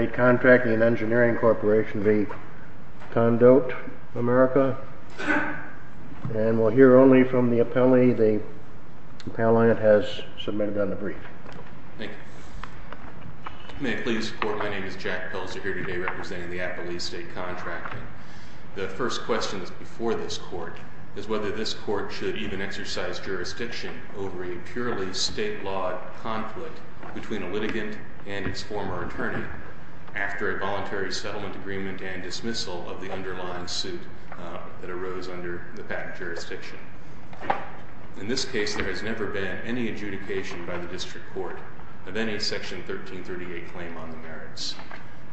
May I please report, my name is Jack Pelzer, here today representing the Appalachia State Contracting. The first question before this court is whether this court should even exercise jurisdiction over a purely state-lawed conflict between a litigant and its former attorney. After a voluntary settlement agreement and dismissal of the underlying suit that arose under the patent jurisdiction. In this case there has never been any adjudication by the District Court of any Section 1338 claim on the merits.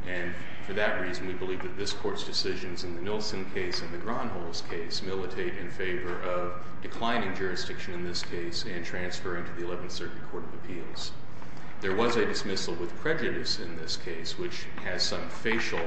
And for that reason we believe that this court's decisions in the Nielsen case and the Gronholz case militate in favor of declining jurisdiction in this case and transferring to the Eleventh Circuit Court of Appeals. There was a dismissal with prejudice in this case which has some facial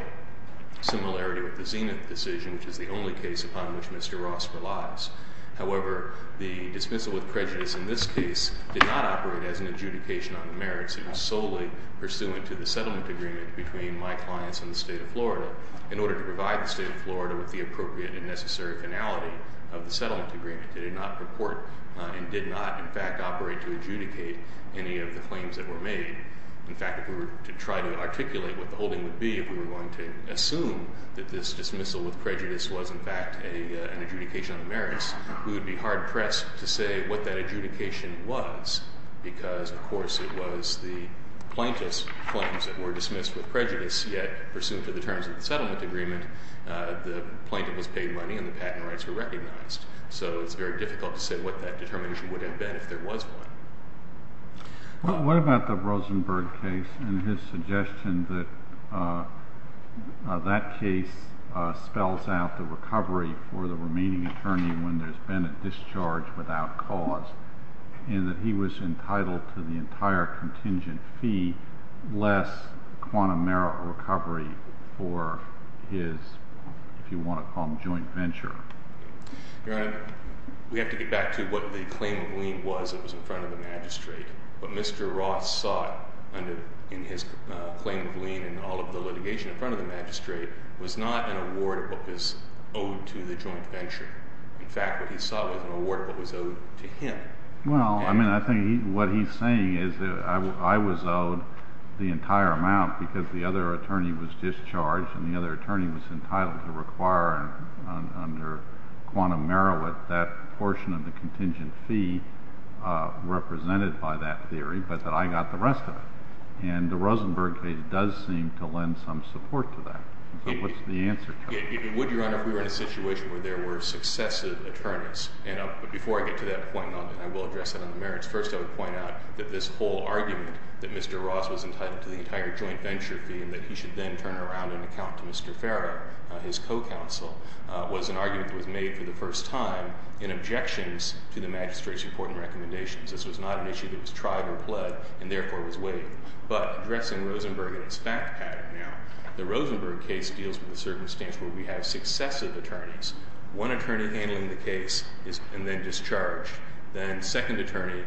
similarity with the Zenith decision which is the only case upon which Mr. Ross relies. However, the dismissal with prejudice in this case did not operate as an adjudication on the merits. It was solely pursuant to the settlement agreement between my clients and the State of Florida in order to provide the State of Florida with the appropriate and necessary finality of the settlement agreement. It did not purport and did not in fact operate to dismiss any of the claims that were made. In fact if we were to try to articulate what the holding would be if we were going to assume that this dismissal with prejudice was in fact an adjudication on the merits, we would be hard pressed to say what that adjudication was because of course it was the plaintiff's claims that were dismissed with prejudice yet pursuant to the terms of the settlement agreement the plaintiff was paid money and the patent rights were recognized. So it's very difficult to say what that determination would have been if there was one. What about the Rosenberg case and his suggestion that that case spells out the recovery for the remaining attorney when there's been a discharge without cause and that he was entitled to the entire contingent fee less quantum merit recovery for his, if you want to call him joint venture? Your Honor, we have to get back to what the claim of lien was that was in front of the magistrate. What Mr. Ross sought in his claim of lien in all of the litigation in front of the magistrate was not an award of what was owed to the joint venture. In fact what he sought was an award of what was owed to him. Well, I mean I think what he's saying is that I was owed the entire amount because the other attorney was entitled to require under quantum merit that portion of the contingent fee represented by that theory, but that I got the rest of it. And the Rosenberg case does seem to lend some support to that. So what's the answer to that? It would, Your Honor, if we were in a situation where there were successive attorneys. And before I get to that point, and I will address that on the merits, first I would point out that this whole argument that Mr. Ross was entitled to the entire joint venture fee and that he should then turn around and account to Mr. Farrow, his co-counsel, was an argument that was made for the first time in objections to the magistrate's report and recommendations. This was not an issue that was tried or pled and therefore was weighed. But addressing Rosenberg in its fact pattern now, the Rosenberg case deals with the circumstance where we have successive attorneys. One attorney handling the case and then discharged. Then second attorney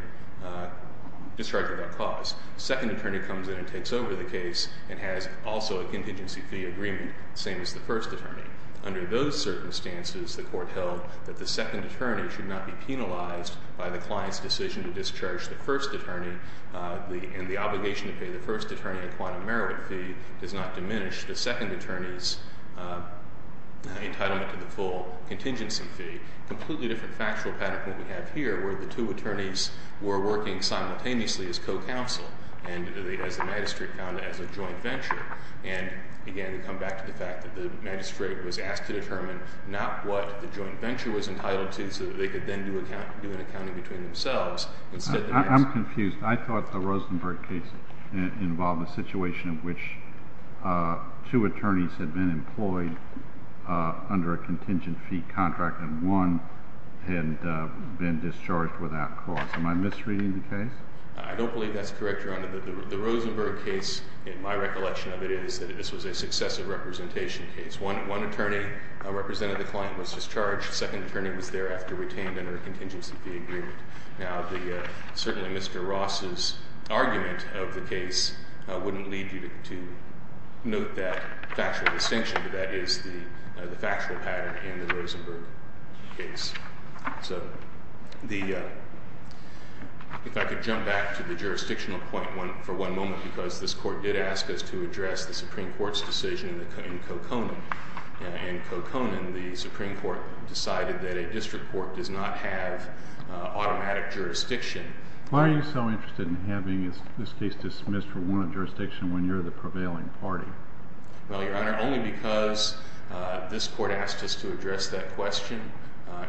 comes in and takes over the case and has also a contingency fee agreement, same as the first attorney. Under those circumstances, the court held that the second attorney should not be penalized by the client's decision to discharge the first attorney and the obligation to pay the first attorney a quantum merit fee does not diminish the second attorney's entitlement to the full contingency fee. Completely different factual pattern from what we have here where the two attorneys were working simultaneously as co-counsel and the magistrate found it as a joint venture. And again, we come back to the fact that the magistrate was asked to determine not what the joint venture was entitled to so that they could then do an accounting between themselves instead of the magistrate. I'm confused. I thought the Rosenberg case involved a situation in which two attorneys had been employed under a contingency fee contract and one had been discharged without cost. Am I misreading the case? I don't believe that's correct, Your Honor. The Rosenberg case, in my recollection of it, is that this was a successive representation case. One attorney representing the client was discharged. The second attorney was thereafter retained under a contingency fee agreement. Now, certainly Mr. Ross's argument of the case wouldn't lead you to note that factual distinction, but that is the factual pattern in the Rosenberg case. So if I could jump back to the jurisdictional point for one moment because this court did ask us to address the Supreme Court's decision in Coconin. In Coconin, the Supreme Court decided that a district court does not have automatic jurisdiction. Why are you so interested in having this case dismissed for warranted jurisdiction when you're the prevailing party? Well, Your Honor, only because this court asked us to address that question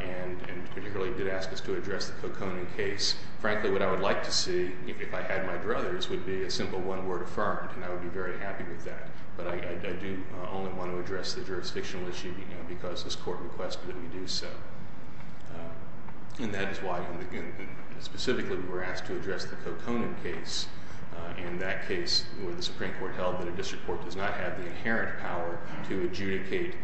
and particularly did ask us to address the Coconin case. Frankly, what I would like to see, if I had my druthers, would be a simple one-word affirmative, and I would be very happy with that. But I do only want to address the jurisdictional issue because this court requested that we do so. And that is why, specifically, we were asked to address the Coconin case. In that case, where the Supreme Court held that a district court does not have the inherent power to adjudicate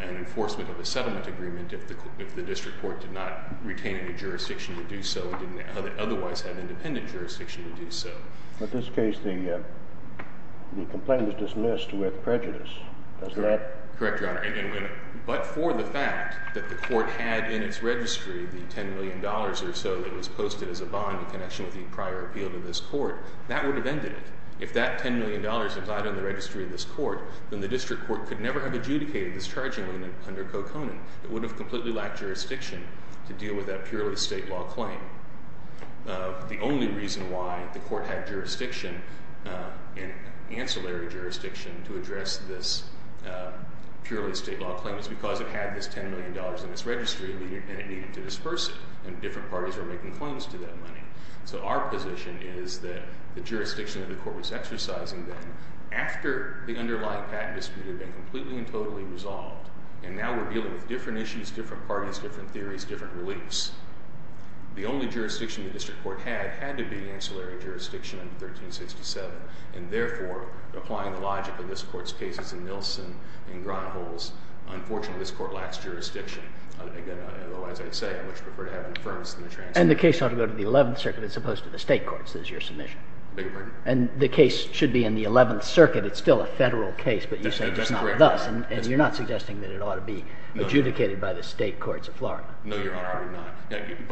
an enforcement of a settlement agreement if the district court did not retain any jurisdiction to do so and didn't otherwise have independent jurisdiction to do so. In this case, the complaint was dismissed with prejudice. Does that... But for the fact that the court had in its registry the $10 million or so that was posted as a bond in connection with the prior appeal to this court, that would have ended it. If that $10 million was not in the registry of this court, then the district court could never have adjudicated this charging under Coconin. It would have completely lacked jurisdiction to deal with that purely state law claim. The only reason why the court had jurisdiction, ancillary jurisdiction, to address this purely state law claim is because it had this $10 million in its registry and it needed to disperse it. And different parties were making claims to that money. So our position is that the jurisdiction that the court was exercising then, after the underlying patent dispute had been completely and totally resolved, and now we're dealing with different issues, different parties, different theories, different beliefs, the only jurisdiction the district court had had to be ancillary jurisdiction under 1367. And therefore, applying the logic of this court's cases in Nielsen and Gronholz, unfortunately this court lacks jurisdiction. Although, as I said, I would prefer to have an affirmative than a transitive. And the case ought to go to the 11th Circuit as opposed to the state courts, is your submission? I beg your pardon? And the case should be in the 11th Circuit. It's still a federal case, but you say it's not thus. And you're not suggesting that it ought to be adjudicated by the state courts of Florida? No, Your Honor, I would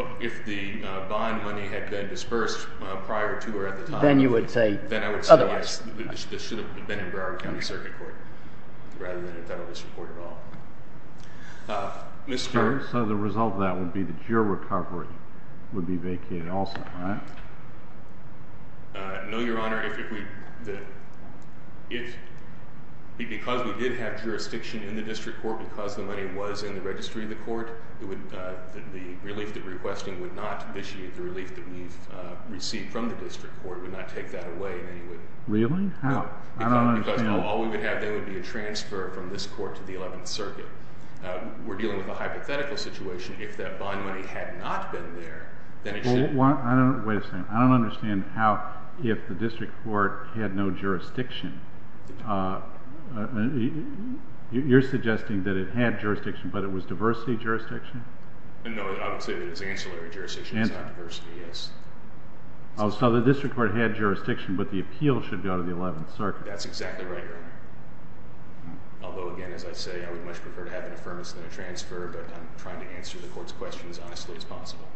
not. If the bond money had been dispersed prior to or at the time of the dispute, then I would say this should have been in Broward County Circuit Court rather than a federal district court at all. So the result of that would be that your recovery would be vacated also, right? No, Your Honor. Because we did have jurisdiction in the district court, because the money was in the registry of the court. The relief that we're requesting would not initiate the relief that we've received from the district court, would not take that away in any way. Really? How? I don't understand. Because all we would have then would be a transfer from this court to the 11th Circuit. We're dealing with a hypothetical situation. If that bond money had not been there, then it should have been. Wait a second. I don't understand how, if the district court had no jurisdiction, you're suggesting that it had jurisdiction, but it was diversity jurisdiction? No, I would say that it's ancillary jurisdiction. It's not diversity, yes. Oh, so the district court had jurisdiction, but the appeal should be out of the 11th Circuit. That's exactly right, Your Honor. Although, again, as I say, I would much prefer to have an affirmation than a transfer, but I'm trying to answer the court's question as honestly as possible.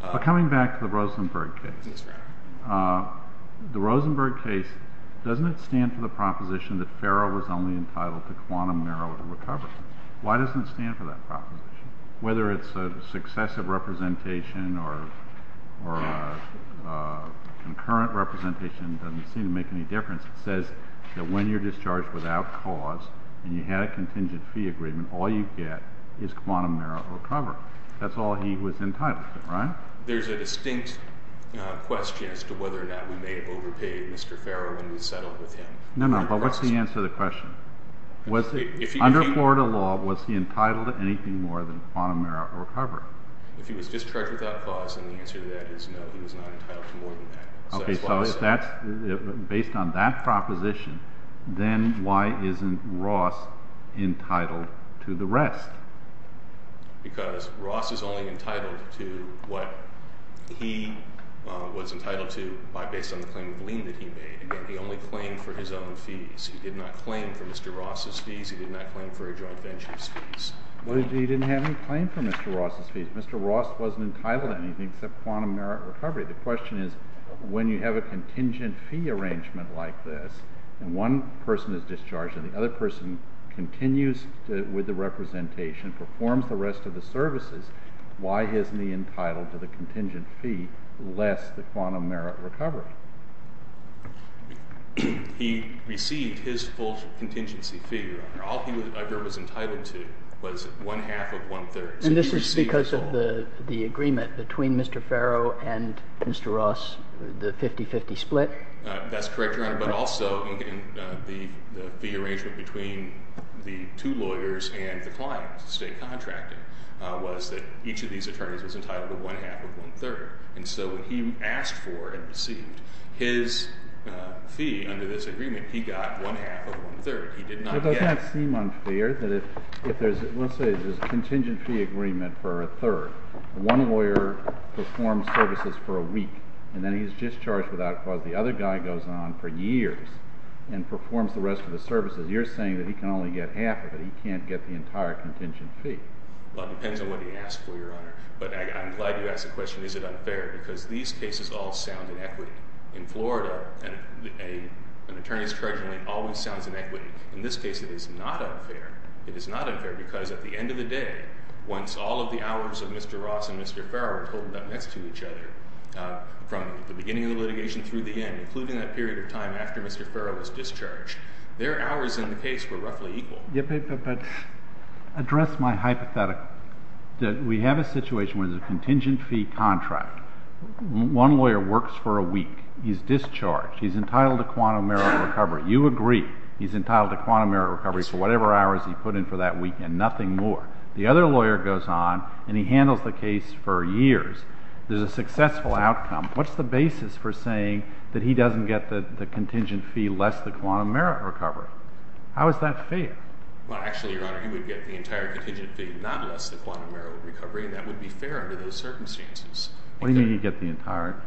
But coming back to the Rosenberg case. Yes, Your Honor. The Rosenberg case, doesn't it stand for the proposition that Farrell was only entitled to quantum narrow recovery? Why doesn't it stand for that proposition? Whether it's a successive representation or a concurrent representation, it doesn't seem to make any difference. It says that when you're discharged without cause and you had a contingent fee agreement, all you get is quantum narrow recovery. That's all he was entitled to, right? There's a distinct question as to whether or not we may have overpaid Mr. Farrell when we settled with him. No, no, but what's the answer to the question? Under Florida law, was he entitled to anything more than quantum narrow recovery? If he was discharged without cause, then the answer to that is no, he was not entitled to more than that. Okay, so based on that proposition, then why isn't Ross entitled to the rest? Because Ross is only entitled to what he was entitled to based on the claim of lien that he only claimed for his own fees. He did not claim for Mr. Ross's fees. He did not claim for a joint venture's fees. But he didn't have any claim for Mr. Ross's fees. Mr. Ross wasn't entitled to anything except quantum narrow recovery. The question is, when you have a contingent fee arrangement like this, and one person is discharged and the other person continues with the representation, performs the rest of the services, why isn't he entitled to the contingent fee less the He received his full contingency fee. All he was entitled to was one-half of one-third. And this is because of the agreement between Mr. Farrow and Mr. Ross, the 50-50 split? That's correct, Your Honor, but also the fee arrangement between the two lawyers and the client, the state contracting, was that each of these attorneys was entitled to one-half of one-third. And so when he asked for and received his fee under this agreement, he got one-half of one-third. He did not get It does not seem unfair that if there's, let's say there's a contingent fee agreement for a third. One lawyer performs services for a week, and then he's discharged without cause. The other guy goes on for years and performs the rest of the services. You're saying that he can only get half of it. He can't get the entire contingent fee. Well, it depends on what he asks for, Your Honor. But I'm glad you asked the question, is it unfair? Because these cases all sound in equity. In Florida, an attorney's charge only always sounds in equity. In this case, it is not unfair. It is not unfair because at the end of the day, once all of the hours of Mr. Ross and Mr. Farrow are totaled up next to each other, from the beginning of the litigation through the end, including that period of time after Mr. Farrow was discharged, their hours in the case were roughly equal. But address my hypothetical. We have a situation where there's a contingent fee contract. One lawyer works for a week. He's discharged. He's entitled to quantum merit recovery. You agree he's entitled to quantum merit recovery for whatever hours he put in for that week and nothing more. The other lawyer goes on, and he handles the case for years. There's a successful outcome. What's the basis for saying that he doesn't get the contingent fee less than quantum merit recovery? How is that fair? Well, actually, Your Honor, he would get the entire contingent fee, not less than quantum merit recovery, and that would be fair under those circumstances. What do you mean he'd get the entire?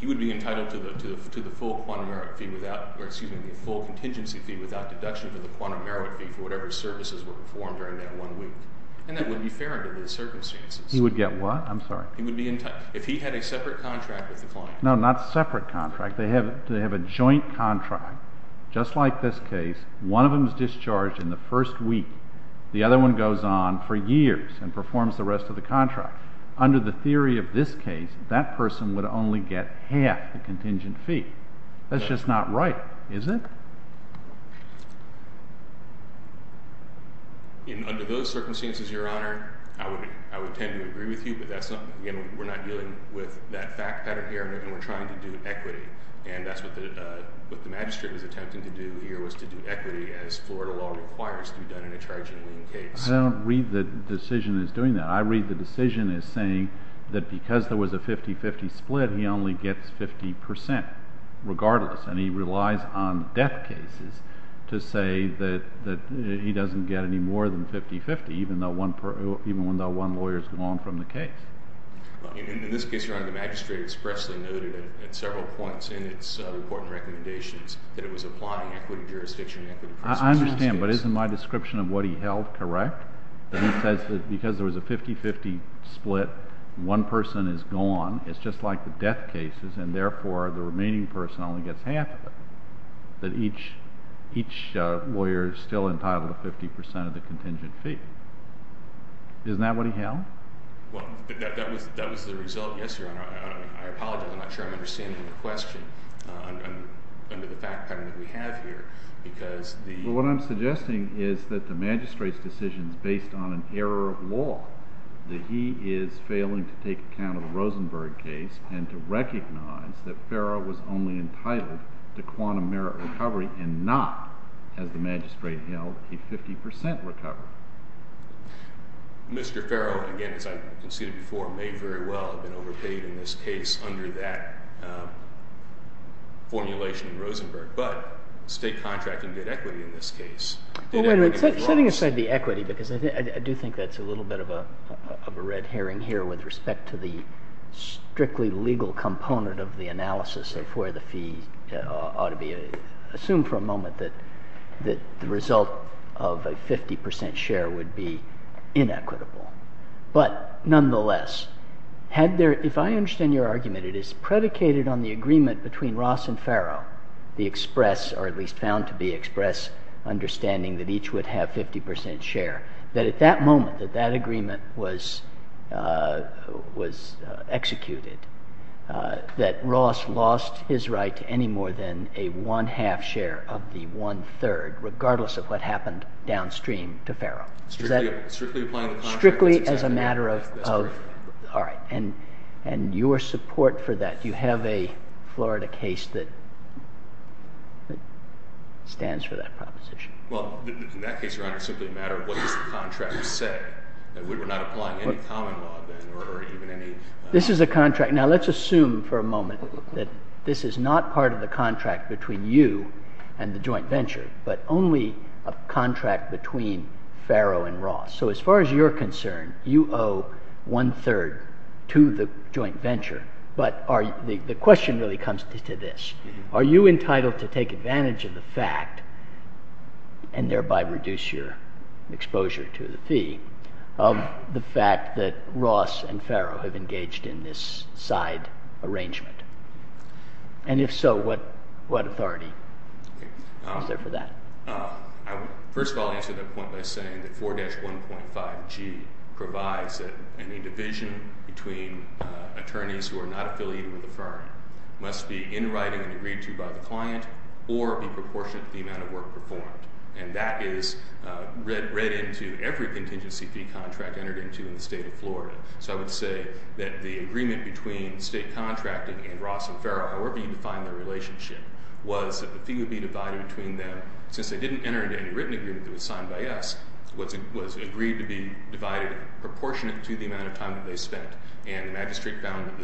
He would be entitled to the full contingency fee without deduction for the quantum merit fee for whatever services were performed during that one week. And that would be fair under those circumstances. He would get what? I'm sorry. If he had a separate contract with the client. No, not separate contract. They have a joint contract. Just like this case, one of them is discharged in the first week. The other one goes on for years and performs the rest of the contract. Under the theory of this case, that person would only get half the contingent fee. That's just not right, is it? Under those circumstances, Your Honor, I would tend to agree with you, but that's when we're trying to do equity, and that's what the magistrate was attempting to do here, was to do equity as Florida law requires to be done in a charging lien case. I don't read the decision as doing that. I read the decision as saying that because there was a 50-50 split, he only gets 50 percent regardless, and he relies on death cases to say that he doesn't get any more than 50-50, even though one lawyer's gone from the case. In this case, Your Honor, the magistrate expressly noted at several points in its report and recommendations that it was applying equity jurisdiction and equity principles. I understand, but isn't my description of what he held correct? That he says that because there was a 50-50 split, one person is gone. It's just like the death cases, and therefore, the remaining person only gets half of it. That each lawyer is still entitled to 50 percent of the contingent fee. Isn't that what he held? Well, that was the result. Yes, Your Honor. I apologize. I'm not sure I'm understanding the question under the fact pattern that we have here because the— Well, what I'm suggesting is that the magistrate's decision is based on an error of law, that he is failing to take account of the Rosenberg case and to recognize that Farrell was only entitled to quantum merit recovery and not, as the magistrate held, a 50 percent recovery. Mr. Farrell, again, as I conceded before, may very well have been overpaid in this case under that formulation in Rosenberg, but state contracting did equity in this case. Well, wait a minute. Setting aside the equity, because I do think that's a little bit of a red herring here with respect to the strictly legal component of the analysis of where the fee ought to be, assume for a moment that the 50 percent share would be inequitable. But nonetheless, had there—if I understand your argument, it is predicated on the agreement between Ross and Farrell, the express, or at least found to be express, understanding that each would have 50 percent share, that at that moment, that that agreement was executed, that Ross lost his right to any more than a one-half share of the claim to Farrell. Strictly applying the contract? Strictly as a matter of— That's correct. All right. And your support for that? Do you have a Florida case that stands for that proposition? Well, in that case, Your Honor, it's simply a matter of what does the contract say? We're not applying any common law, then, or even any— This is a contract—now, let's assume for a moment that this is not part of you and the joint venture, but only a contract between Farrell and Ross. So as far as you're concerned, you owe one-third to the joint venture, but the question really comes to this. Are you entitled to take advantage of the fact, and thereby reduce your exposure to the fee, of the fact that Ross and Farrell have engaged in this side arrangement? And if so, what authority is there for that? First of all, I'll answer that point by saying that 4-1.5G provides that any division between attorneys who are not affiliated with the firm must be in writing and agreed to by the client or be proportionate to the amount of work performed. And that is read into every contingency fee contract entered into in the state of Florida. So I would say that the agreement between state contracting and Ross and Farrell, however you define the relationship, was that the fee would be divided between them. Since they didn't enter into any written agreement that was signed by us, it was agreed to be divided proportionate to the amount of time that they spent. And the magistrate found that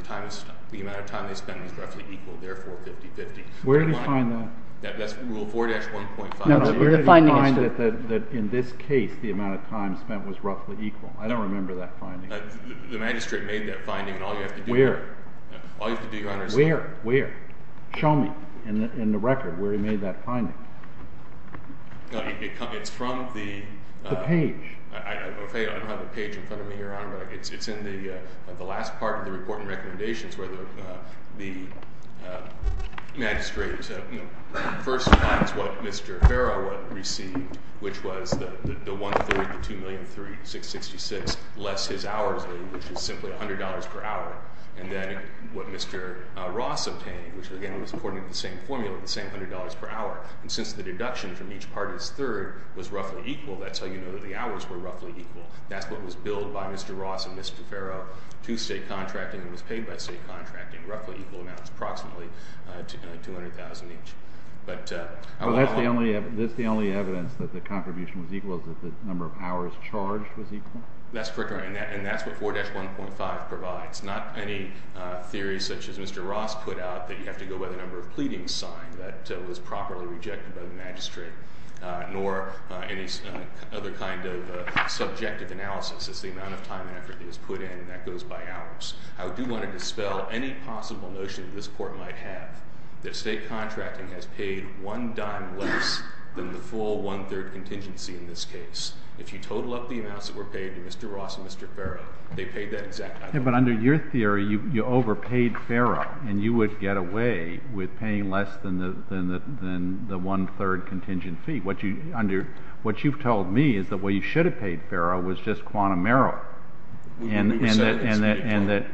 the amount of time they spent was roughly equal, therefore 50-50. Where do you find that? That's Rule 4-1.5G. No, no. Where do you find that in this case the amount of time spent was roughly equal? I don't remember that finding. The magistrate made that finding and all you have to do is Where? All you have to do, Your Honor, is Where? Where? Show me in the record where he made that finding. No, it's from the The page I don't have the page in front of me, Your Honor, but it's in the last part of the reporting recommendations where the magistrate first finds what Mr. Farrell received, which was the one-third, the $2,000,000.666 less his hours, which is simply $100 per hour, and then what Mr. Ross obtained, which again was according to the same formula, the same $100 per hour. And since the deduction from each part of his third was roughly equal, that's how you know the hours were roughly equal. That's what was billed by Mr. Ross and Mr. Farrell to state contracting and was paid by state contracting, roughly equal amounts, approximately $200,000 each. But That's the only evidence that the contribution was equal, that the number of hours charged was equal? That's correct, Your Honor, and that's what 4-1.5 provides. Not any theory such as Mr. Ross put out that you have to go by the number of pleadings signed. That was properly rejected by the magistrate, nor any other kind of subjective analysis. It's the amount of time and effort that is put in, and that goes by hours. I do want to dispel any possible notion that this court might have that state contracting has paid one dime less than the full one-third contingency in this case. If you total up the amounts that were paid to Mr. Ross and Mr. Farrell, they paid that exact amount. Yeah, but under your theory, you overpaid Farrell, and you would get away with paying less than the one-third contingent fee. What you've told me is that what you should have paid Farrell was just quantum error, and that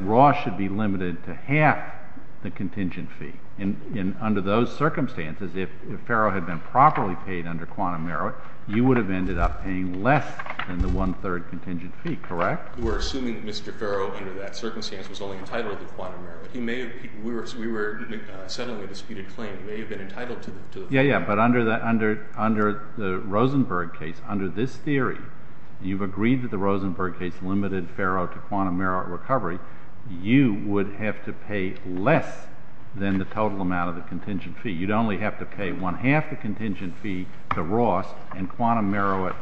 Ross should be limited to half the contingent fee. And under those circumstances, if Farrell had been properly paid under quantum error, you would have ended up paying less than the one-third contingent fee, correct? We're assuming that Mr. Farrell, under that circumstance, was only entitled to quantum error. We were settling a disputed claim. He may have been entitled to the quantum error. Yeah, yeah, but under the Rosenberg case, under this theory, you've agreed that the Rosenberg case limited Farrell to quantum error at recovery. You would have to pay less than the total amount of the contingent fee. You'd only have to pay one-half the contingent fee to Ross and quantum error it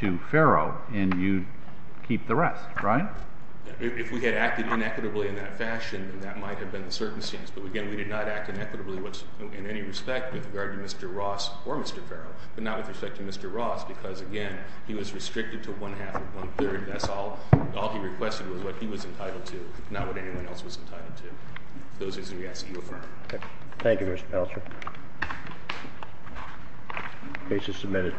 to Farrell, and you'd keep the rest, right? If we had acted inequitably in that fashion, then that might have been the circumstance. But again, we did not act inequitably in any respect with regard to Mr. Ross or Mr. Farrell, but not with respect to Mr. Ross because, again, he was restricted to one-half or one-third. That's all he requested was what he was entitled to, not what anyone else was entitled to. Those reasons we ask that you affirm. Thank you, Mr. Paltrow. Case is submitted.